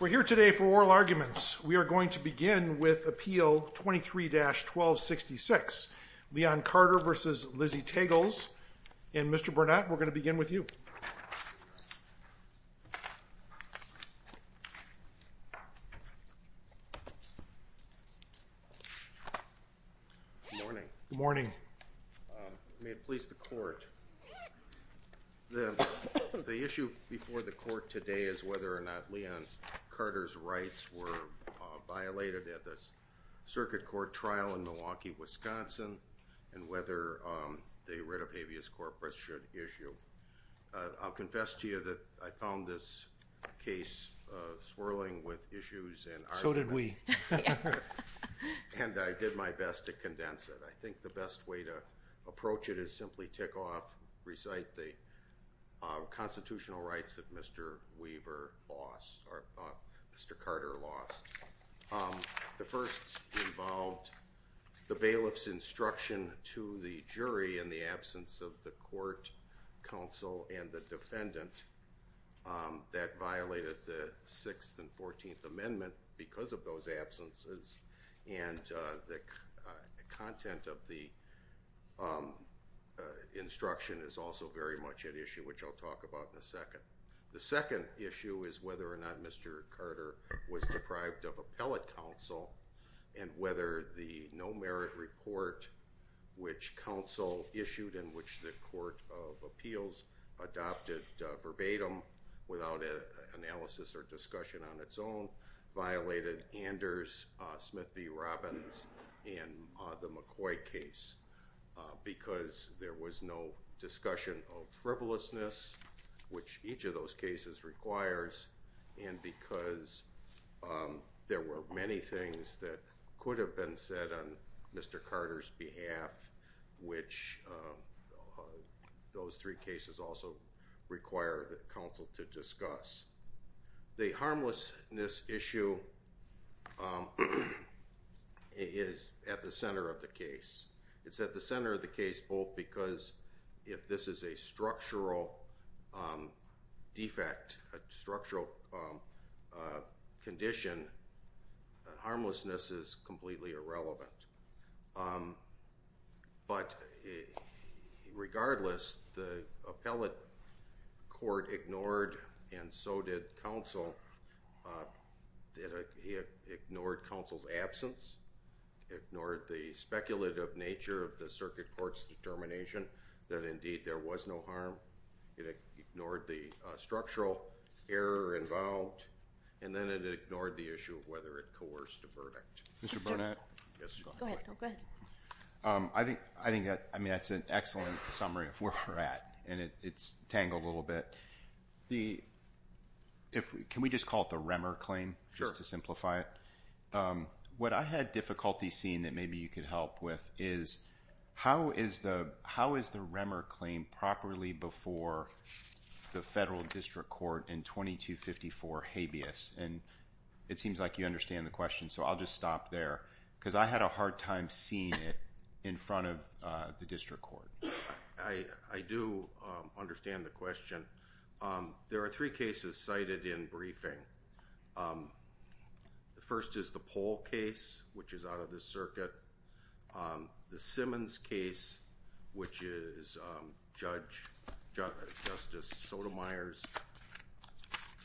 We're here today for oral arguments. We are going to begin with Appeal 23-1266. Leon Carter v. Lizzie Tegels and Mr. Burnett, we're going to begin with you. Good morning. Good morning. May it please the court, the issue before the court today is whether or not Leon Carter's rights were violated at the circuit court trial in Milwaukee, Wisconsin, and whether the writ of habeas corpus should issue. I'll confess to you that I found this case swirling with issues. So did we. And I did my best to condense it. I think the best way to approach it is simply tick off, recite the constitutional rights that Mr. Weaver lost, or Mr. Carter lost. The first involved the bailiff's instruction to the jury in the absence of the court counsel and the defendant that violated the 6th and 14th Amendment because of those absences, and the content of the instruction is also very much at issue, which I'll talk about in a second. The second issue is whether or not Mr. Carter was deprived of appellate counsel and whether the no merit report which counsel issued in which the Court of Appeals adopted verbatim without analysis or discussion on its own violated Anders, Smith v. Robbins, and the McCoy case because there was no discussion of frivolousness, which each of those cases requires, and because there were many things that could have been said on Mr. Carter's behalf, which those three cases also require counsel to discuss. The harmlessness issue is at the center of the case. It's at the center of the case both because if this is a structural defect, a structural condition, harmlessness is completely irrelevant. But regardless, the appellate court ignored, and so did counsel, ignored counsel's absence, ignored the speculative nature of the circuit court's determination that indeed there was no harm, it ignored the structural error involved, and then it ignored the issue of whether it coerced the verdict. Mr. Burnett? Go ahead. I think that's an excellent summary of where we're at, and it's tangled a little bit. Can we just call it the Remmer claim just to simplify it? Sure. What I had difficulty seeing that maybe you could help with is how is the Remmer claim properly before the federal district court in 2254 habeas? And it seems like you understand the question, so I'll just stop there because I had a hard time seeing it in front of the district court. I do understand the question. There are three cases cited in briefing. The first is the Pohl case, which is out of the circuit. The Simmons case, which is Judge Justice Sotomayor's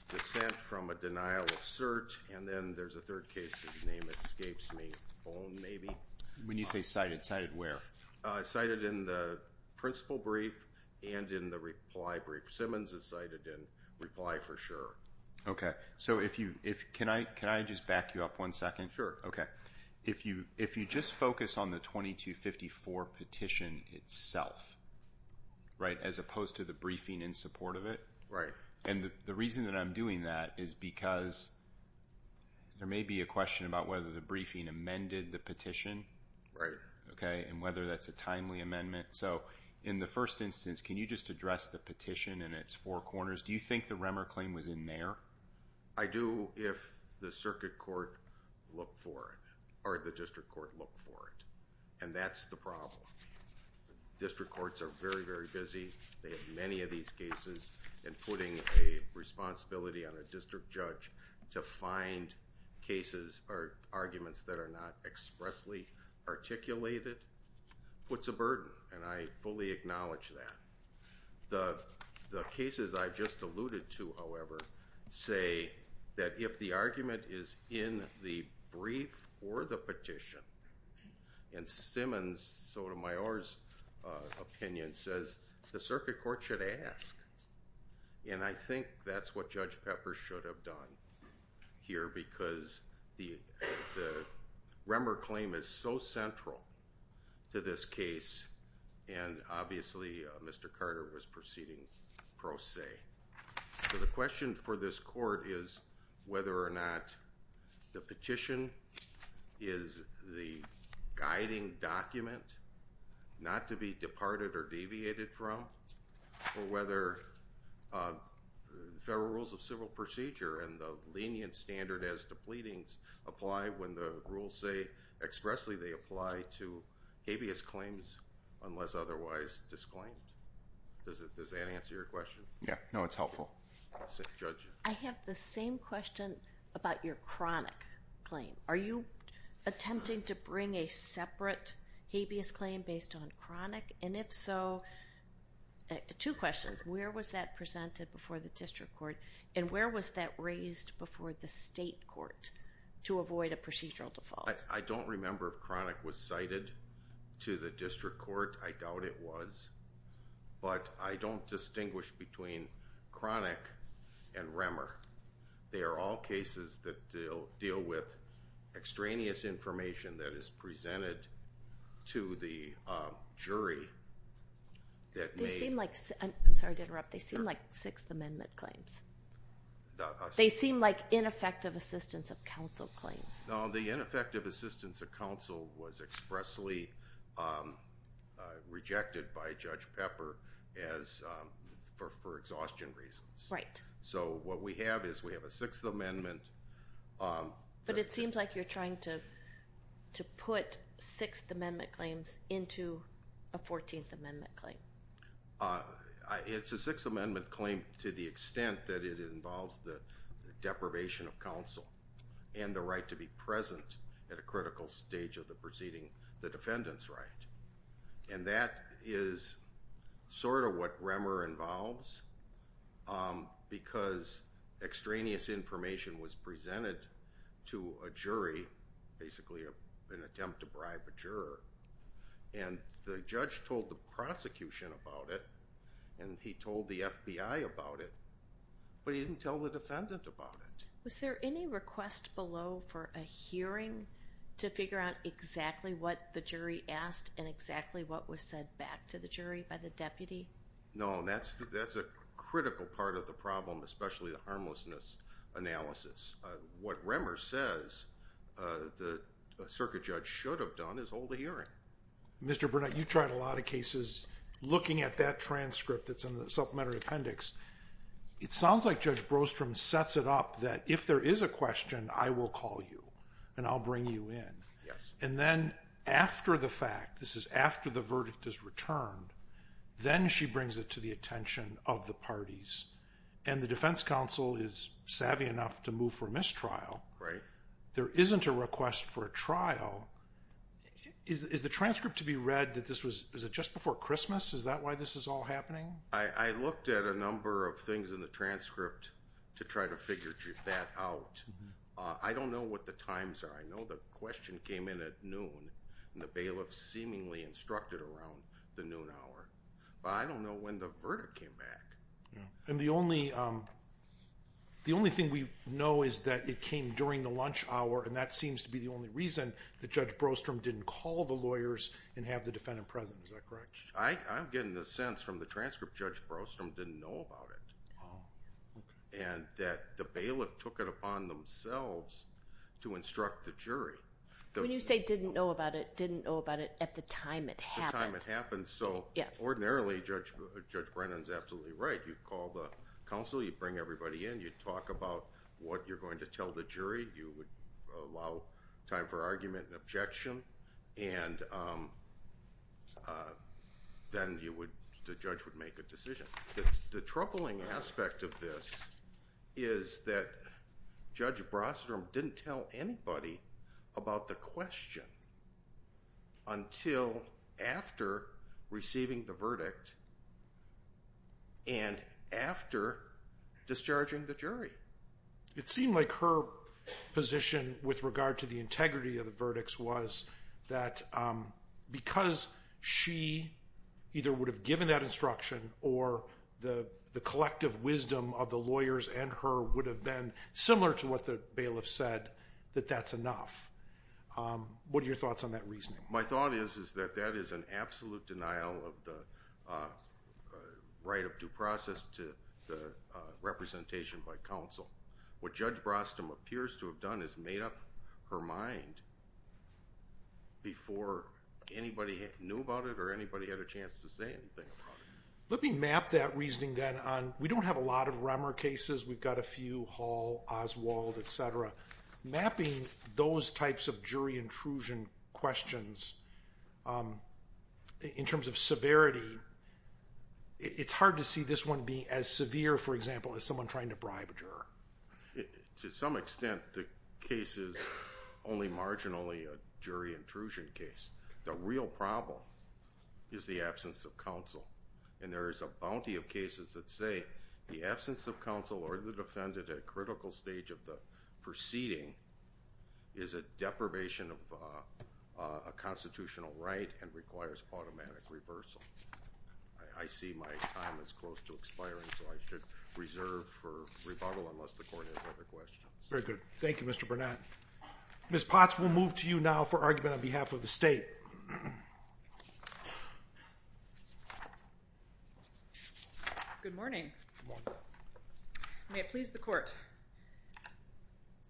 dissent from a denial of cert, and then there's a third case, his name escapes me, Bohn, maybe. When you say cited, cited where? Cited in the principle brief and in the reply brief. Simmons is cited in reply for sure. Okay. So can I just back you up one second? Sure. Okay. If you just focus on the 2254 petition itself, right, as opposed to the briefing in support of it? Right. And the reason that I'm doing that is because there may be a question about whether the briefing amended the petition. Right. Okay. And whether that's a timely amendment. So in the first instance, can you just address the petition and its four corners? Do you think the Remmer claim was in there? I do if the circuit court looked for it or the district court looked for it. And that's the problem. District courts are very, very busy. They have many of these cases and putting a responsibility on a district judge to find cases or arguments that are not expressly articulated puts a burden. And I fully acknowledge that. The cases I just alluded to, however, say that if the argument is in the brief or the petition and Simmons, Sotomayor's opinion says the circuit court should ask. And I think that's what Judge Pepper should have done here because the Remmer claim is so central to this case. And obviously, Mr. Carter was proceeding pro se. So the question for this court is whether or not the petition is the guiding document not to be departed or deviated from, or whether federal rules of civil procedure and the lenient standard as to pleadings apply when the rules say expressly they apply to habeas claims unless otherwise disclaimed. Does that answer your question? Yeah. No, it's helpful. Judge? I have the same question about your chronic claim. Are you attempting to bring a separate habeas claim based on chronic? And if so, two questions. Where was that presented before the district court? And where was that raised before the state court to avoid a procedural default? I don't remember if chronic was cited to the district court. I doubt it was. But I don't distinguish between chronic and Remmer. They are all cases that deal with extraneous information that is presented to the jury. I'm sorry to interrupt. They seem like Sixth Amendment claims. They seem like ineffective assistance of counsel claims. No, the ineffective assistance of counsel was expressly rejected by Judge Pepper for exhaustion reasons. Right. So what we have is we have a Sixth Amendment. But it seems like you're trying to put Sixth Amendment claims into a Fourteenth Amendment claim. It's a Sixth Amendment claim to the extent that it involves the deprivation of counsel and the right to be present at a critical stage of the proceeding, the defendant's right. And that is sort of what Remmer involves because extraneous information was presented to a jury, basically an attempt to bribe a juror. And the judge told the prosecution about it, and he told the FBI about it, but he didn't tell the defendant about it. Was there any request below for a hearing to figure out exactly what the jury asked and exactly what was said back to the jury by the deputy? No, and that's a critical part of the problem, especially the harmlessness analysis. What Remmer says the circuit judge should have done is hold a hearing. Mr. Burnett, you tried a lot of cases looking at that transcript that's in the supplementary appendix. It sounds like Judge Brostrom sets it up that if there is a question, I will call you and I'll bring you in. And then after the fact, this is after the verdict is returned, then she brings it to the attention of the parties. And the defense counsel is savvy enough to move for mistrial. There isn't a request for a trial. Is the transcript to be read that this was just before Christmas? Is that why this is all happening? I looked at a number of things in the transcript to try to figure that out. I don't know what the times are. I know the question came in at noon, and the bailiff seemingly instructed around the noon hour. But I don't know when the verdict came back. And the only thing we know is that it came during the lunch hour, and that seems to be the only reason that Judge Brostrom didn't call the lawyers and have the defendant present. Is that correct? I'm getting the sense from the transcript Judge Brostrom didn't know about it and that the bailiff took it upon themselves to instruct the jury. When you say didn't know about it, didn't know about it at the time it happened. At the time it happened. So ordinarily, Judge Brennan is absolutely right. You'd call the counsel, you'd bring everybody in, you'd talk about what you're going to tell the jury, you would allow time for argument and objection. And then the judge would make a decision. The troubling aspect of this is that Judge Brostrom didn't tell anybody about the question until after receiving the verdict and after discharging the jury. It seemed like her position with regard to the integrity of the verdicts was that because she either would have given that instruction or the collective wisdom of the lawyers and her would have been similar to what the bailiff said, that that's enough. What are your thoughts on that reasoning? My thought is that that is an absolute denial of the right of due process to the representation by counsel. What Judge Brostrom appears to have done is made up her mind before anybody knew about it or anybody had a chance to say anything about it. Let me map that reasoning then. We don't have a lot of Remmer cases. We've got a few, Hall, Oswald, et cetera. Mapping those types of jury intrusion questions in terms of severity, it's hard to see this one being as severe, for example, as someone trying to bribe a juror. To some extent, the case is only marginally a jury intrusion case. The real problem is the absence of counsel. There is a bounty of cases that say the absence of counsel or the defendant at a critical stage of the proceeding is a deprivation of a constitutional right and requires automatic reversal. I see my time is close to expiring, so I should reserve for rebuttal unless the Court has other questions. Very good. Thank you, Mr. Burnett. Ms. Potts, we'll move to you now for argument on behalf of the State. Good morning. May it please the Court.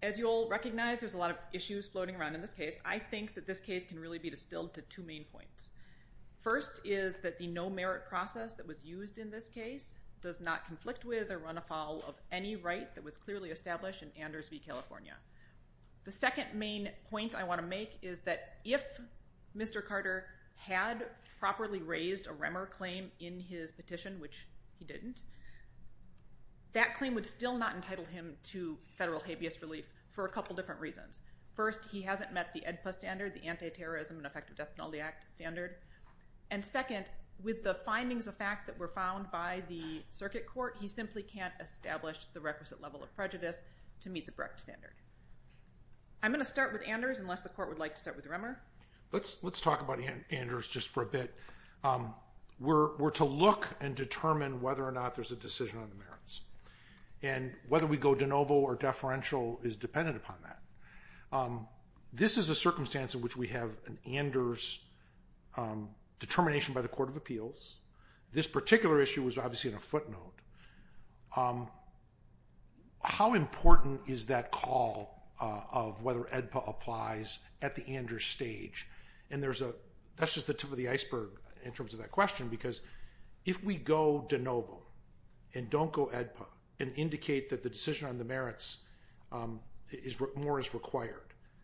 As you'll recognize, there's a lot of issues floating around in this case. I think that this case can really be distilled to two main points. First is that the no-merit process that was used in this case does not conflict with or run afoul of any right that was clearly established in Anders v. California. The second main point I want to make is that if Mr. Carter had properly raised a REMER claim in his petition, which he didn't, that claim would still not entitle him to federal habeas relief for a couple different reasons. First, he hasn't met the AEDPA standard, the Anti-Terrorism and Effective Death Penalty Act standard. And second, with the findings of fact that were found by the circuit court, he simply can't establish the requisite level of prejudice to meet the correct standard. I'm going to start with Anders unless the Court would like to start with REMER. Let's talk about Anders just for a bit. We're to look and determine whether or not there's a decision on the merits. And whether we go de novo or deferential is dependent upon that. This is a circumstance in which we have an Anders determination by the Court of Appeals. This particular issue was obviously in a footnote. How important is that call of whether AEDPA applies at the Anders stage? And that's just the tip of the iceberg in terms of that question because if we go de novo and don't go AEDPA and indicate that the decision on the merits more is required,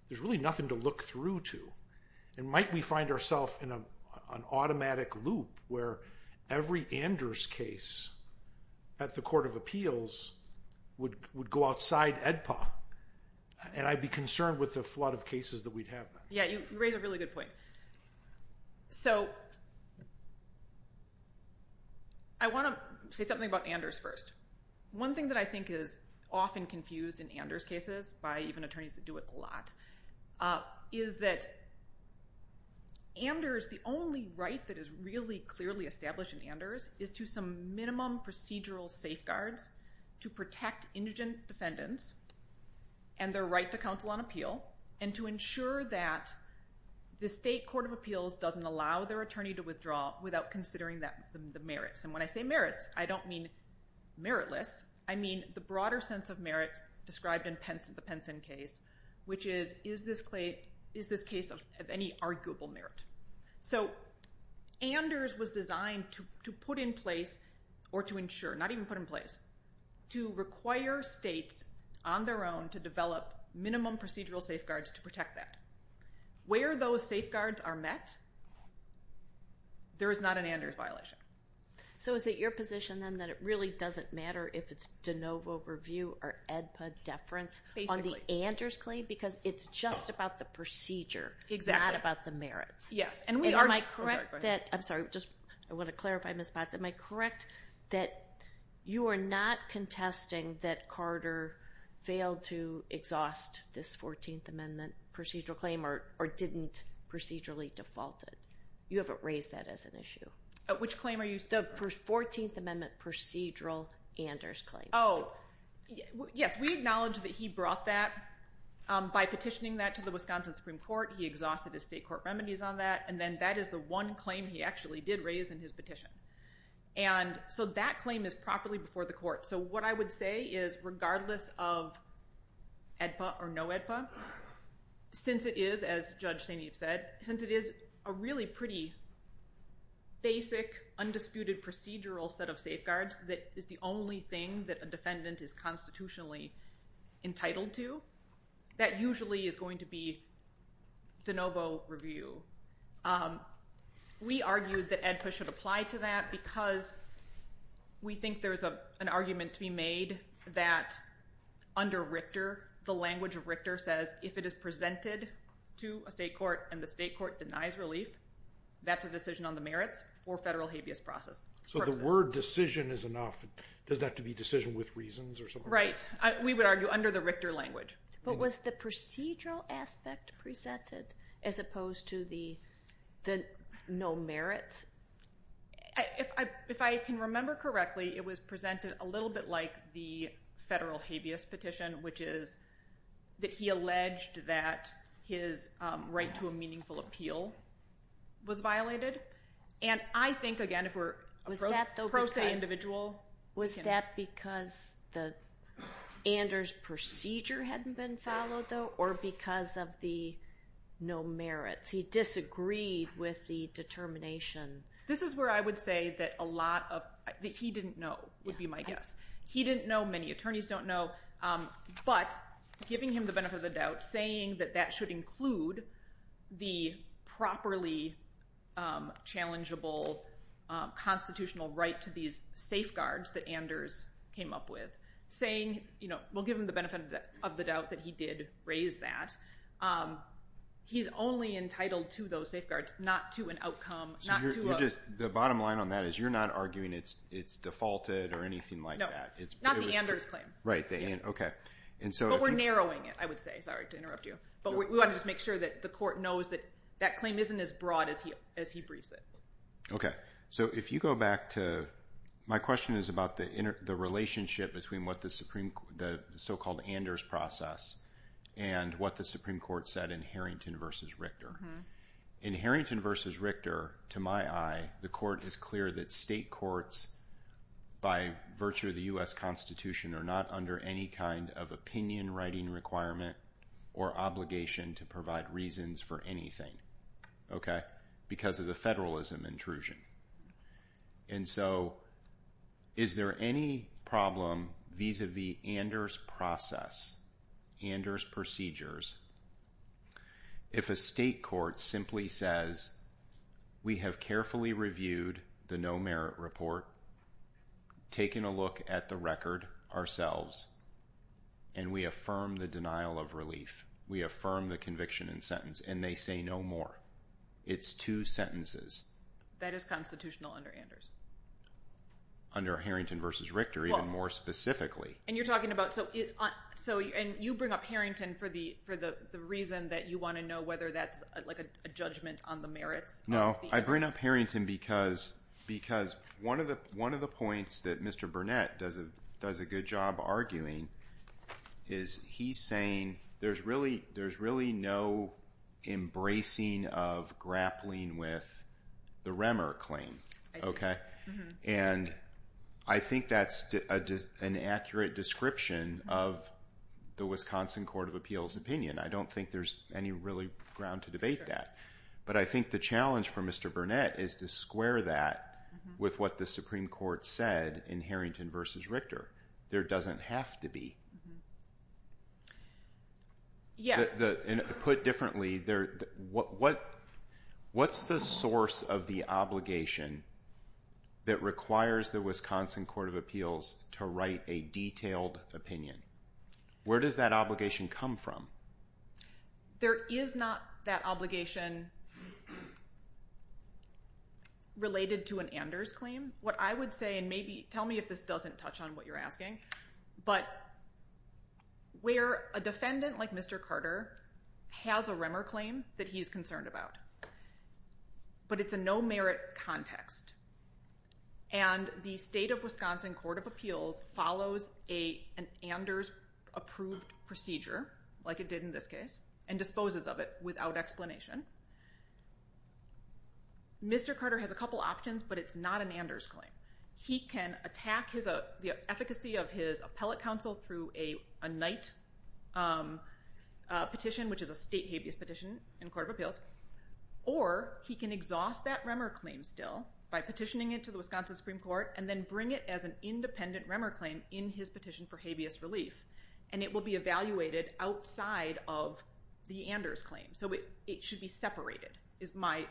there's really nothing to look through to. And might we find ourselves in an automatic loop where every Anders case at the Court of Appeals would go outside AEDPA and I'd be concerned with the flood of cases that we'd have. Yeah, you raise a really good point. So I want to say something about Anders first. One thing that I think is often confused in Anders cases, by even attorneys that do it a lot, is that Anders, the only right that is really clearly established in Anders is to some minimum procedural safeguards to protect indigent defendants and their right to counsel on appeal and to ensure that the state Court of Appeals doesn't allow their attorney to withdraw without considering the merits. And when I say merits, I don't mean meritless. I mean the broader sense of merits described in the Penson case, which is, is this case of any arguable merit? So Anders was designed to put in place or to ensure, not even put in place, to require states on their own to develop minimum procedural safeguards to protect that. Where those safeguards are met, there is not an Anders violation. So is it your position then that it really doesn't matter if it's de novo review or AEDPA deference on the Anders claim because it's just about the procedure, not about the merits? Yes. And am I correct that, I'm sorry, I want to clarify, Ms. Potts, am I correct that you are not contesting that Carter failed to exhaust this 14th Amendment procedural claim or didn't procedurally default it? You haven't raised that as an issue. Which claim are you speaking of? The 14th Amendment procedural Anders claim. Oh, yes. We acknowledge that he brought that by petitioning that to the Wisconsin Supreme Court. He exhausted his state court remedies on that, and then that is the one claim he actually did raise in his petition. And so that claim is properly before the court. So what I would say is, regardless of AEDPA or no AEDPA, since it is, as Judge St. Eve said, since it is a really pretty basic, undisputed procedural set of safeguards that is the only thing that a defendant is constitutionally entitled to, that usually is going to be de novo review. We argue that AEDPA should apply to that because we think there's an argument to be made that under Richter, the language of Richter says, if it is presented to a state court and the state court denies relief, that's a decision on the merits for federal habeas process purposes. So the word decision is enough. Does that have to be decision with reasons or something like that? Right. We would argue under the Richter language. But was the procedural aspect presented as opposed to the no merits? If I can remember correctly, it was presented a little bit like the federal habeas petition, which is that he alleged that his right to a meaningful appeal was violated. And I think, again, if we're a pro se individual. Was that because the Anders procedure hadn't been followed, though, or because of the no merits? He disagreed with the determination. This is where I would say that a lot of – that he didn't know would be my guess. He didn't know. Many attorneys don't know. But giving him the benefit of the doubt, saying that that should include the properly challengeable constitutional right to these safeguards that Anders came up with, saying we'll give him the benefit of the doubt that he did raise that, he's only entitled to those safeguards, not to an outcome. So the bottom line on that is you're not arguing it's defaulted or anything like that? No. Not the Anders claim. Right. Okay. But we're narrowing it, I would say. Sorry to interrupt you. But we want to just make sure that the court knows that that claim isn't as broad as he briefs it. Okay. So if you go back to – my question is about the relationship between what the so-called Anders process and what the Supreme Court said in Harrington v. Richter. In Harrington v. Richter, to my eye, the court is clear that state courts, by virtue of the U.S. Constitution, are not under any kind of opinion-writing requirement or obligation to provide reasons for anything. Okay? Because of the federalism intrusion. And so is there any problem vis-à-vis Anders process, Anders procedures, if a state court simply says, we have carefully reviewed the no-merit report, taken a look at the record ourselves, and we affirm the denial of relief, we affirm the conviction and sentence, and they say no more? It's two sentences. That is constitutional under Anders. Under Harrington v. Richter, even more specifically. And you're talking about – and you bring up Harrington for the reason that you want to know whether that's like a judgment on the merits. No. I bring up Harrington because one of the points that Mr. Burnett does a good job arguing is he's saying there's really no embracing of grappling with the Remmer claim. And I think that's an accurate description of the Wisconsin Court of Appeals opinion. I don't think there's any really ground to debate that. But I think the challenge for Mr. Burnett is to square that with what the Supreme Court said in Harrington v. Richter. There doesn't have to be. Put differently, what's the source of the obligation that requires the Wisconsin Court of Appeals to write a detailed opinion? Where does that obligation come from? There is not that obligation related to an Anders claim. What I would say, and maybe tell me if this doesn't touch on what you're asking, but where a defendant like Mr. Carter has a Remmer claim that he's concerned about, but it's a no-merit context, and the state of Wisconsin Court of Appeals follows an Anders-approved procedure, like it did in this case, and disposes of it without explanation, Mr. Carter has a couple options, but it's not an Anders claim. He can attack the efficacy of his appellate counsel through a Knight petition, which is a state habeas petition in the Court of Appeals, or he can exhaust that Remmer claim still by petitioning it to the Wisconsin Supreme Court and then bring it as an independent Remmer claim in his petition for habeas relief. And it will be evaluated outside of the Anders claim. So it should be separated is my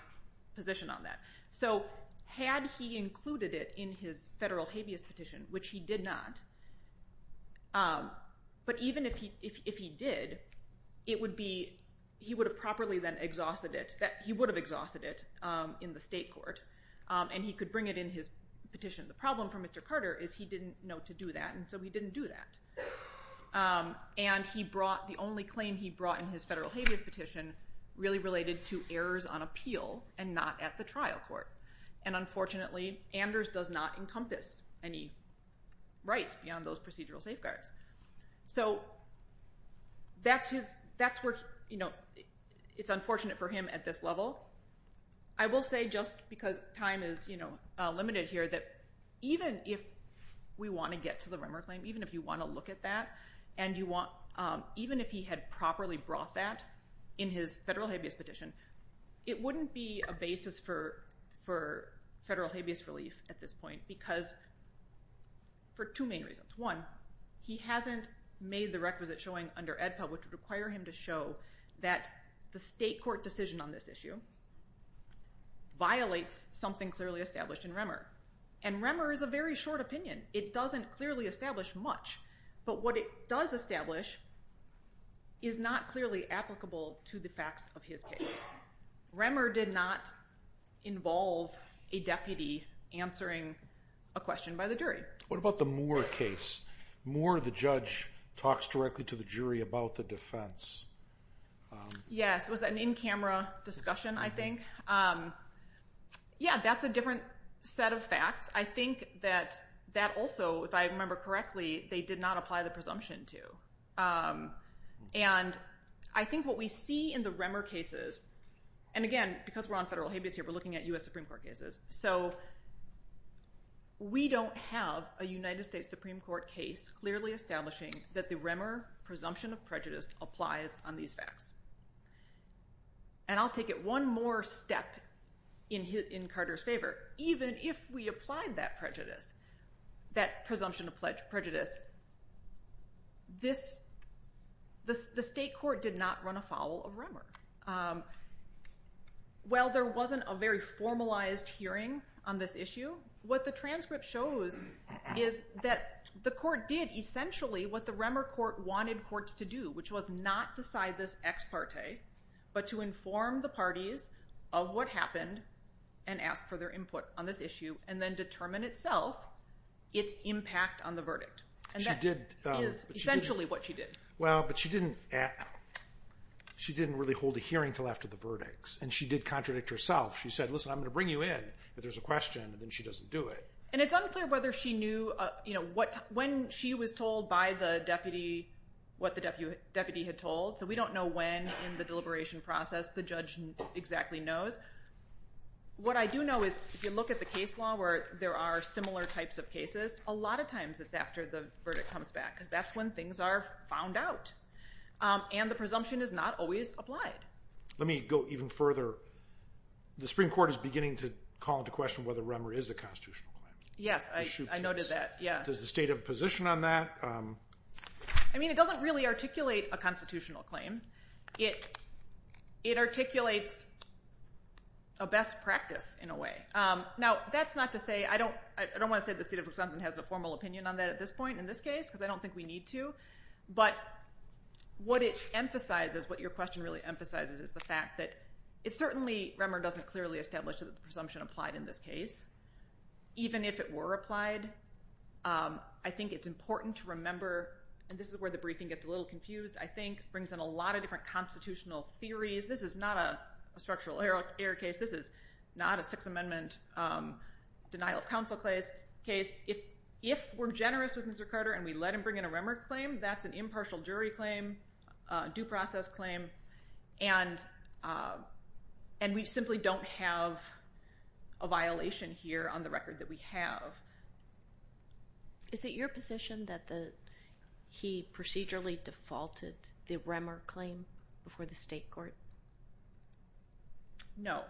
position on that. So had he included it in his federal habeas petition, which he did not, but even if he did, he would have properly then exhausted it. He would have exhausted it in the state court, and he could bring it in his petition. The problem for Mr. Carter is he didn't know to do that, and so he didn't do that. And the only claim he brought in his federal habeas petition really related to errors on appeal and not at the trial court. And unfortunately, Anders does not encompass any rights beyond those procedural safeguards. So that's where it's unfortunate for him at this level. I will say, just because time is limited here, that even if we want to get to the Remmer claim, even if you want to look at that, and even if he had properly brought that in his federal habeas petition, it wouldn't be a basis for federal habeas relief at this point because for two main reasons. One, he hasn't made the requisite showing under AEDPA which would require him to show that the state court decision on this issue violates something clearly established in Remmer. And Remmer is a very short opinion. It doesn't clearly establish much. But what it does establish is not clearly applicable to the facts of his case. Remmer did not involve a deputy answering a question by the jury. What about the Moore case? Moore, the judge, talks directly to the jury about the defense. Yes, it was an in-camera discussion, I think. Yeah, that's a different set of facts. I think that that also, if I remember correctly, they did not apply the presumption to. And I think what we see in the Remmer cases, and again, because we're on federal habeas here, we're looking at U.S. Supreme Court cases, so we don't have a United States Supreme Court case clearly establishing that the Remmer presumption of prejudice applies on these facts. And I'll take it one more step in Carter's favor. Even if we applied that prejudice, that presumption of prejudice, the state court did not run afoul of Remmer. While there wasn't a very formalized hearing on this issue, what the transcript shows is that the court did essentially what the Remmer court wanted courts to do, which was not decide this ex parte, but to inform the parties of what happened and ask for their input on this issue, and then determine itself its impact on the verdict. And that is essentially what she did. Well, but she didn't really hold a hearing until after the verdicts, and she did contradict herself. She said, listen, I'm going to bring you in. If there's a question, then she doesn't do it. And it's unclear whether she knew when she was told by the deputy what the deputy had told, so we don't know when in the deliberation process the judge exactly knows. What I do know is if you look at the case law where there are similar types of cases, a lot of times it's after the verdict comes back because that's when things are found out, and the presumption is not always applied. Let me go even further. The Supreme Court is beginning to call into question whether Remmer is a constitutional claim. Yes, I noted that. Does the state have a position on that? I mean, it doesn't really articulate a constitutional claim. It articulates a best practice in a way. Now, that's not to say I don't want to say the state of Wisconsin has a formal opinion on that at this point in this case because I don't think we need to, but what it emphasizes, what your question really emphasizes is the fact that it certainly, Remmer doesn't clearly establish that the presumption applied in this case. Even if it were applied, I think it's important to remember, and this is where the briefing gets a little confused, I think, brings in a lot of different constitutional theories. This is not a structural error case. This is not a Sixth Amendment denial of counsel case. If we're generous with Mr. Carter and we let him bring in a Remmer claim, that's an impartial jury claim, due process claim, and we simply don't have a violation here on the record that we have. Is it your position that he procedurally defaulted the Remmer claim before the state court? No.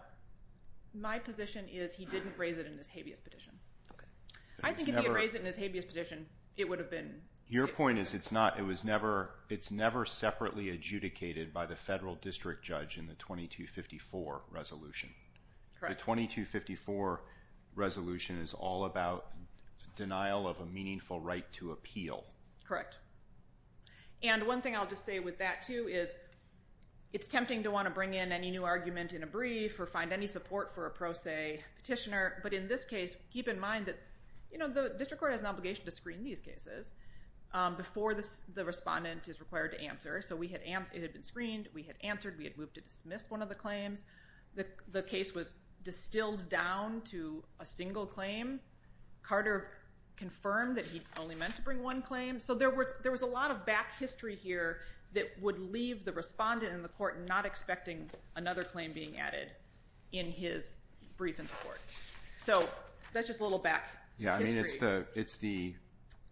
My position is he didn't raise it in his habeas petition. I think if he had raised it in his habeas petition, it would have been. Your point is it's never separately adjudicated by the federal district judge in the 2254 resolution. Correct. The 2254 resolution is all about denial of a meaningful right to appeal. Correct. One thing I'll just say with that too is it's tempting to want to bring in any new argument in a brief or find any support for a pro se petitioner, but in this case, keep in mind that the district court has an obligation to screen these cases before the respondent is required to answer. So it had been screened. We had answered. We had moved to dismiss one of the claims. The case was distilled down to a single claim. Carter confirmed that he only meant to bring one claim. So there was a lot of back history here that would leave the respondent in the court not expecting another claim being added in his brief and support. So that's just a little back history. It's the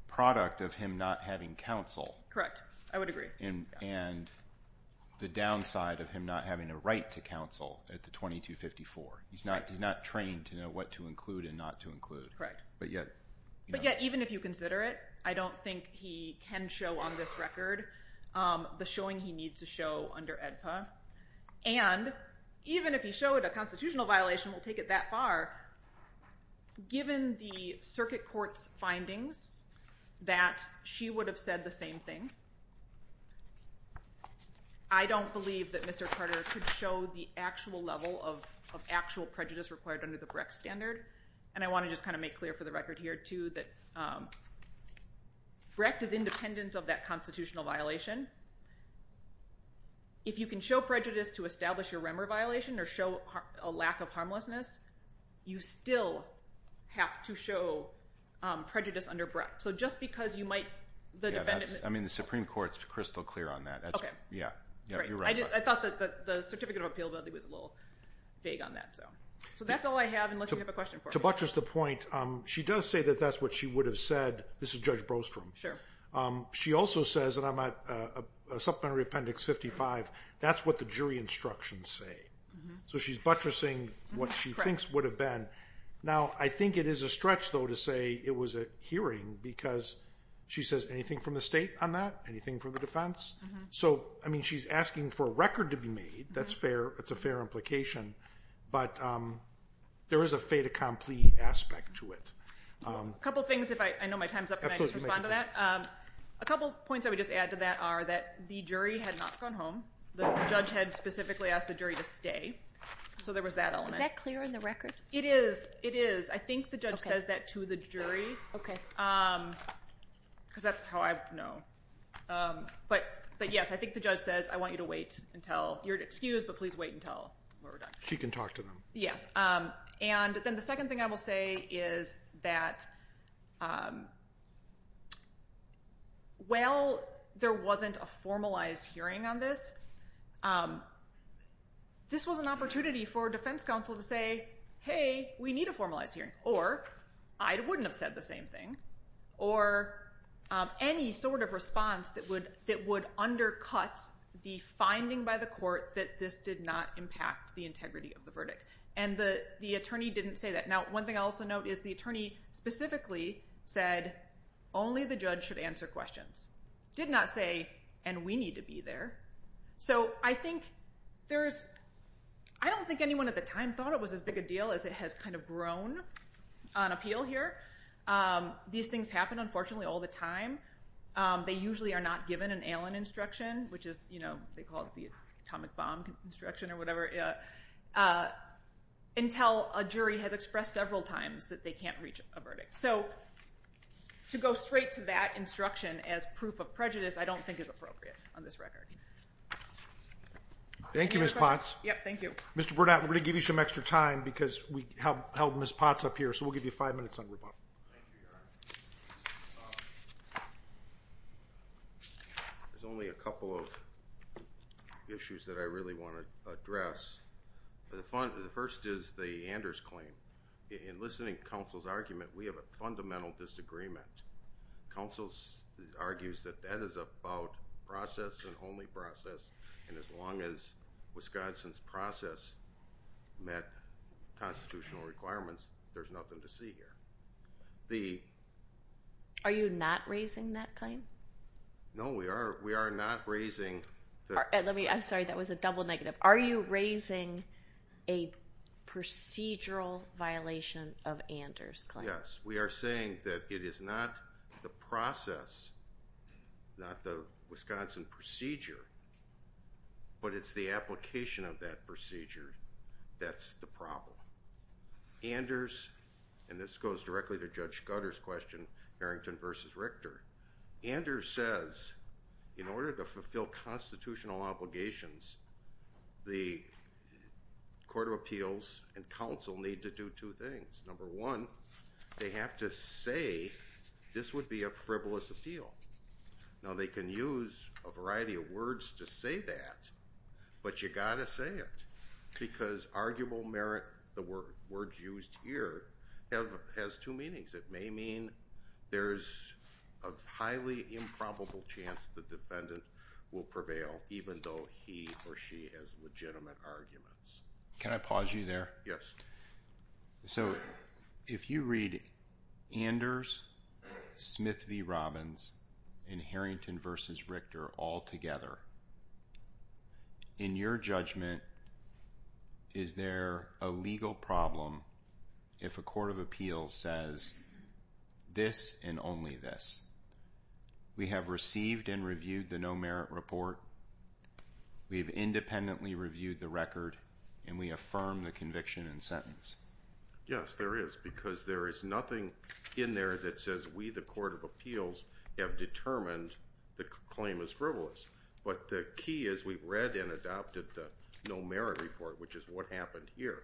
product of him not having counsel. Correct. I would agree. And the downside of him not having a right to counsel at the 2254. He's not trained to know what to include and not to include. Correct. But yet even if you consider it, I don't think he can show on this record the showing he needs to show under AEDPA. And even if he showed a constitutional violation, we'll take it that far. Given the circuit court's findings that she would have said the same thing, I don't believe that Mr. Carter could show the actual level of actual prejudice required under the BREC standard. And I want to just kind of make clear for the record here, too, that BREC is independent of that constitutional violation. If you can show prejudice to establish a REMER violation or show a lack of harmlessness, you still have to show prejudice under BREC. So just because you might, the defendant... I mean, the Supreme Court's crystal clear on that. Yeah. You're right. I thought that the certificate of appeal was a little vague on that. So that's all I have unless you have a question for me. To buttress the point, she does say that that's what she would have said. This is Judge Brostrom. Sure. She also says, and I'm at Supplementary Appendix 55, that's what the jury instructions say. So she's buttressing what she thinks would have been. Now, I think it is a stretch, though, to say it was a hearing because she says anything from the state on that, anything from the defense? So, I mean, she's asking for a record to be made. That's fair. It's a fair implication. But there is a fait accompli aspect to it. A couple things, if I know my time's up and I just respond to that. A couple points I would just add to that are that the jury had not gone home. The judge had specifically asked the jury to stay. So there was that element. Is that clear in the record? It is. It is. I think the judge says that to the jury because that's how I know. But, yes, I think the judge says, I want you to wait until you're excused, but please wait until we're done. She can talk to them. Yes. And then the second thing I will say is that while there wasn't a formalized hearing on this, this was an opportunity for a defense counsel to say, hey, we need a formalized hearing, or I wouldn't have said the same thing, or any sort of response that would undercut the finding by the court that this did not impact the integrity of the verdict. And the attorney didn't say that. Now, one thing I'll also note is the attorney specifically said only the judge should answer questions. Did not say, and we need to be there. So I think there's – I don't think anyone at the time thought it was as big a deal as it has kind of grown on appeal here. These things happen, unfortunately, all the time. They usually are not given an Allen instruction, which is, you know, they call it the atomic bomb instruction or whatever, until a jury has expressed several times that they can't reach a verdict. So to go straight to that instruction as proof of prejudice I don't think is appropriate on this record. Thank you, Ms. Potts. Thank you. Mr. Burnett, we're going to give you some extra time because we held Ms. Potts up here, so we'll give you five minutes on rebuttal. There's only a couple of issues that I really want to address. The first is the Anders claim. In listening to counsel's argument, we have a fundamental disagreement. Counsel argues that that is about process and only process, and as long as Wisconsin's process met constitutional requirements, there's nothing to see here. Are you not raising that claim? No, we are not raising that. I'm sorry, that was a double negative. Are you raising a procedural violation of Anders' claim? Yes, we are saying that it is not the process, not the Wisconsin procedure, but it's the application of that procedure that's the problem. Anders, and this goes directly to Judge Scudder's question, Harrington v. Richter, Anders says in order to fulfill constitutional obligations, the Court of Appeals and counsel need to do two things. Number one, they have to say this would be a frivolous appeal. Now, they can use a variety of words to say that, but you've got to say it because arguable merit, the words used here, has two meanings. It may mean there's a highly improbable chance the defendant will prevail, even though he or she has legitimate arguments. Can I pause you there? Yes. So if you read Anders, Smith v. Robbins, and Harrington v. Richter all together, in your judgment, is there a legal problem if a Court of Appeals says this and only this? We have received and reviewed the no merit report, we have independently reviewed the record, and we affirm the conviction and sentence. Yes, there is, because there is nothing in there that says we, the Court of Appeals, have determined the claim is frivolous. But the key is we've read and adopted the no merit report, which is what happened here.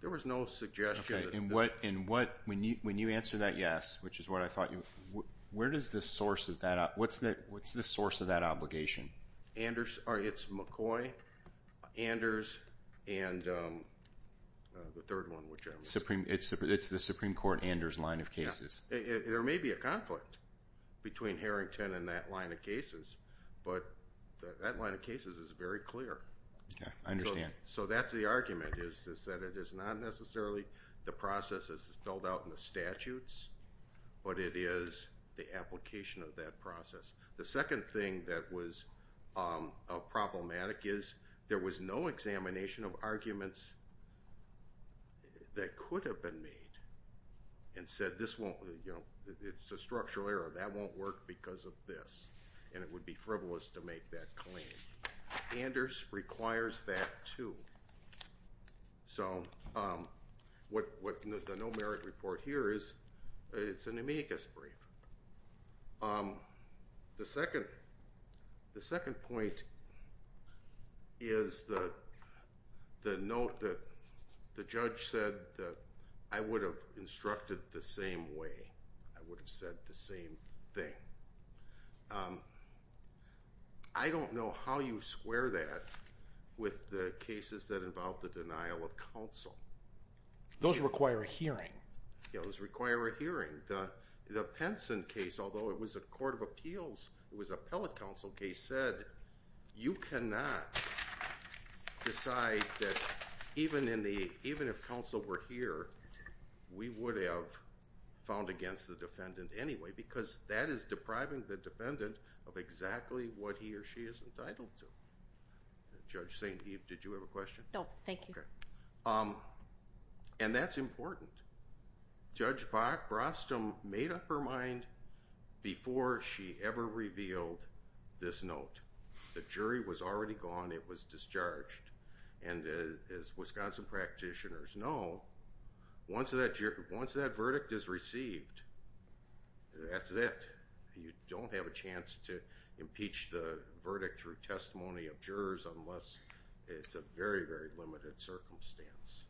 There was no suggestion. Okay, and when you answer that yes, which is what I thought you would, where does the source of that, what's the source of that obligation? Anders, or it's McCoy, Anders, and the third one, whichever. It's the Supreme Court, Anders line of cases. There may be a conflict between Harrington and that line of cases, but that line of cases is very clear. I understand. So that's the argument, is that it is not necessarily the process as spelled out in the statutes, but it is the application of that process. The second thing that was problematic is there was no examination of arguments that could have been made and said this won't, you know, it's a structural error, that won't work because of this, and it would be frivolous to make that claim. Anders requires that too. So what the no merit report here is, it's an amicus brief. The second point is the note that the judge said that I would have instructed the same way. I would have said the same thing. I don't know how you square that with the cases that involve the denial of counsel. Those require a hearing. Those require a hearing. The Penson case, although it was a court of appeals, it was appellate counsel case, said you cannot decide that even if counsel were here, we would have found against the defendant anyway because that is depriving the defendant of exactly what he or she is entitled to. Judge St. Eve, did you have a question? No, thank you. Okay. And that's important. Judge Brock Brostom made up her mind before she ever revealed this note. The jury was already gone. It was discharged. And as Wisconsin practitioners know, once that verdict is received, that's it. You don't have a chance to impeach the verdict through testimony of jurors unless it's a very, very limited circumstance.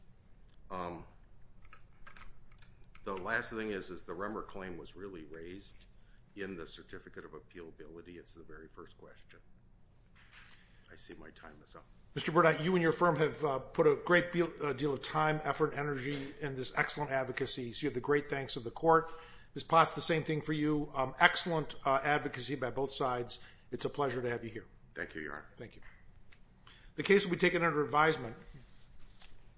The last thing is, is the Remmer claim was really raised in the Certificate of Appealability. It's the very first question. I see my time is up. Mr. Burnett, you and your firm have put a great deal of time, effort, energy, and this excellent advocacy, so you have the great thanks of the court. Ms. Potts, the same thing for you. Excellent advocacy by both sides. It's a pleasure to have you here. Thank you, Your Honor. Thank you. The case will be taken under advisement.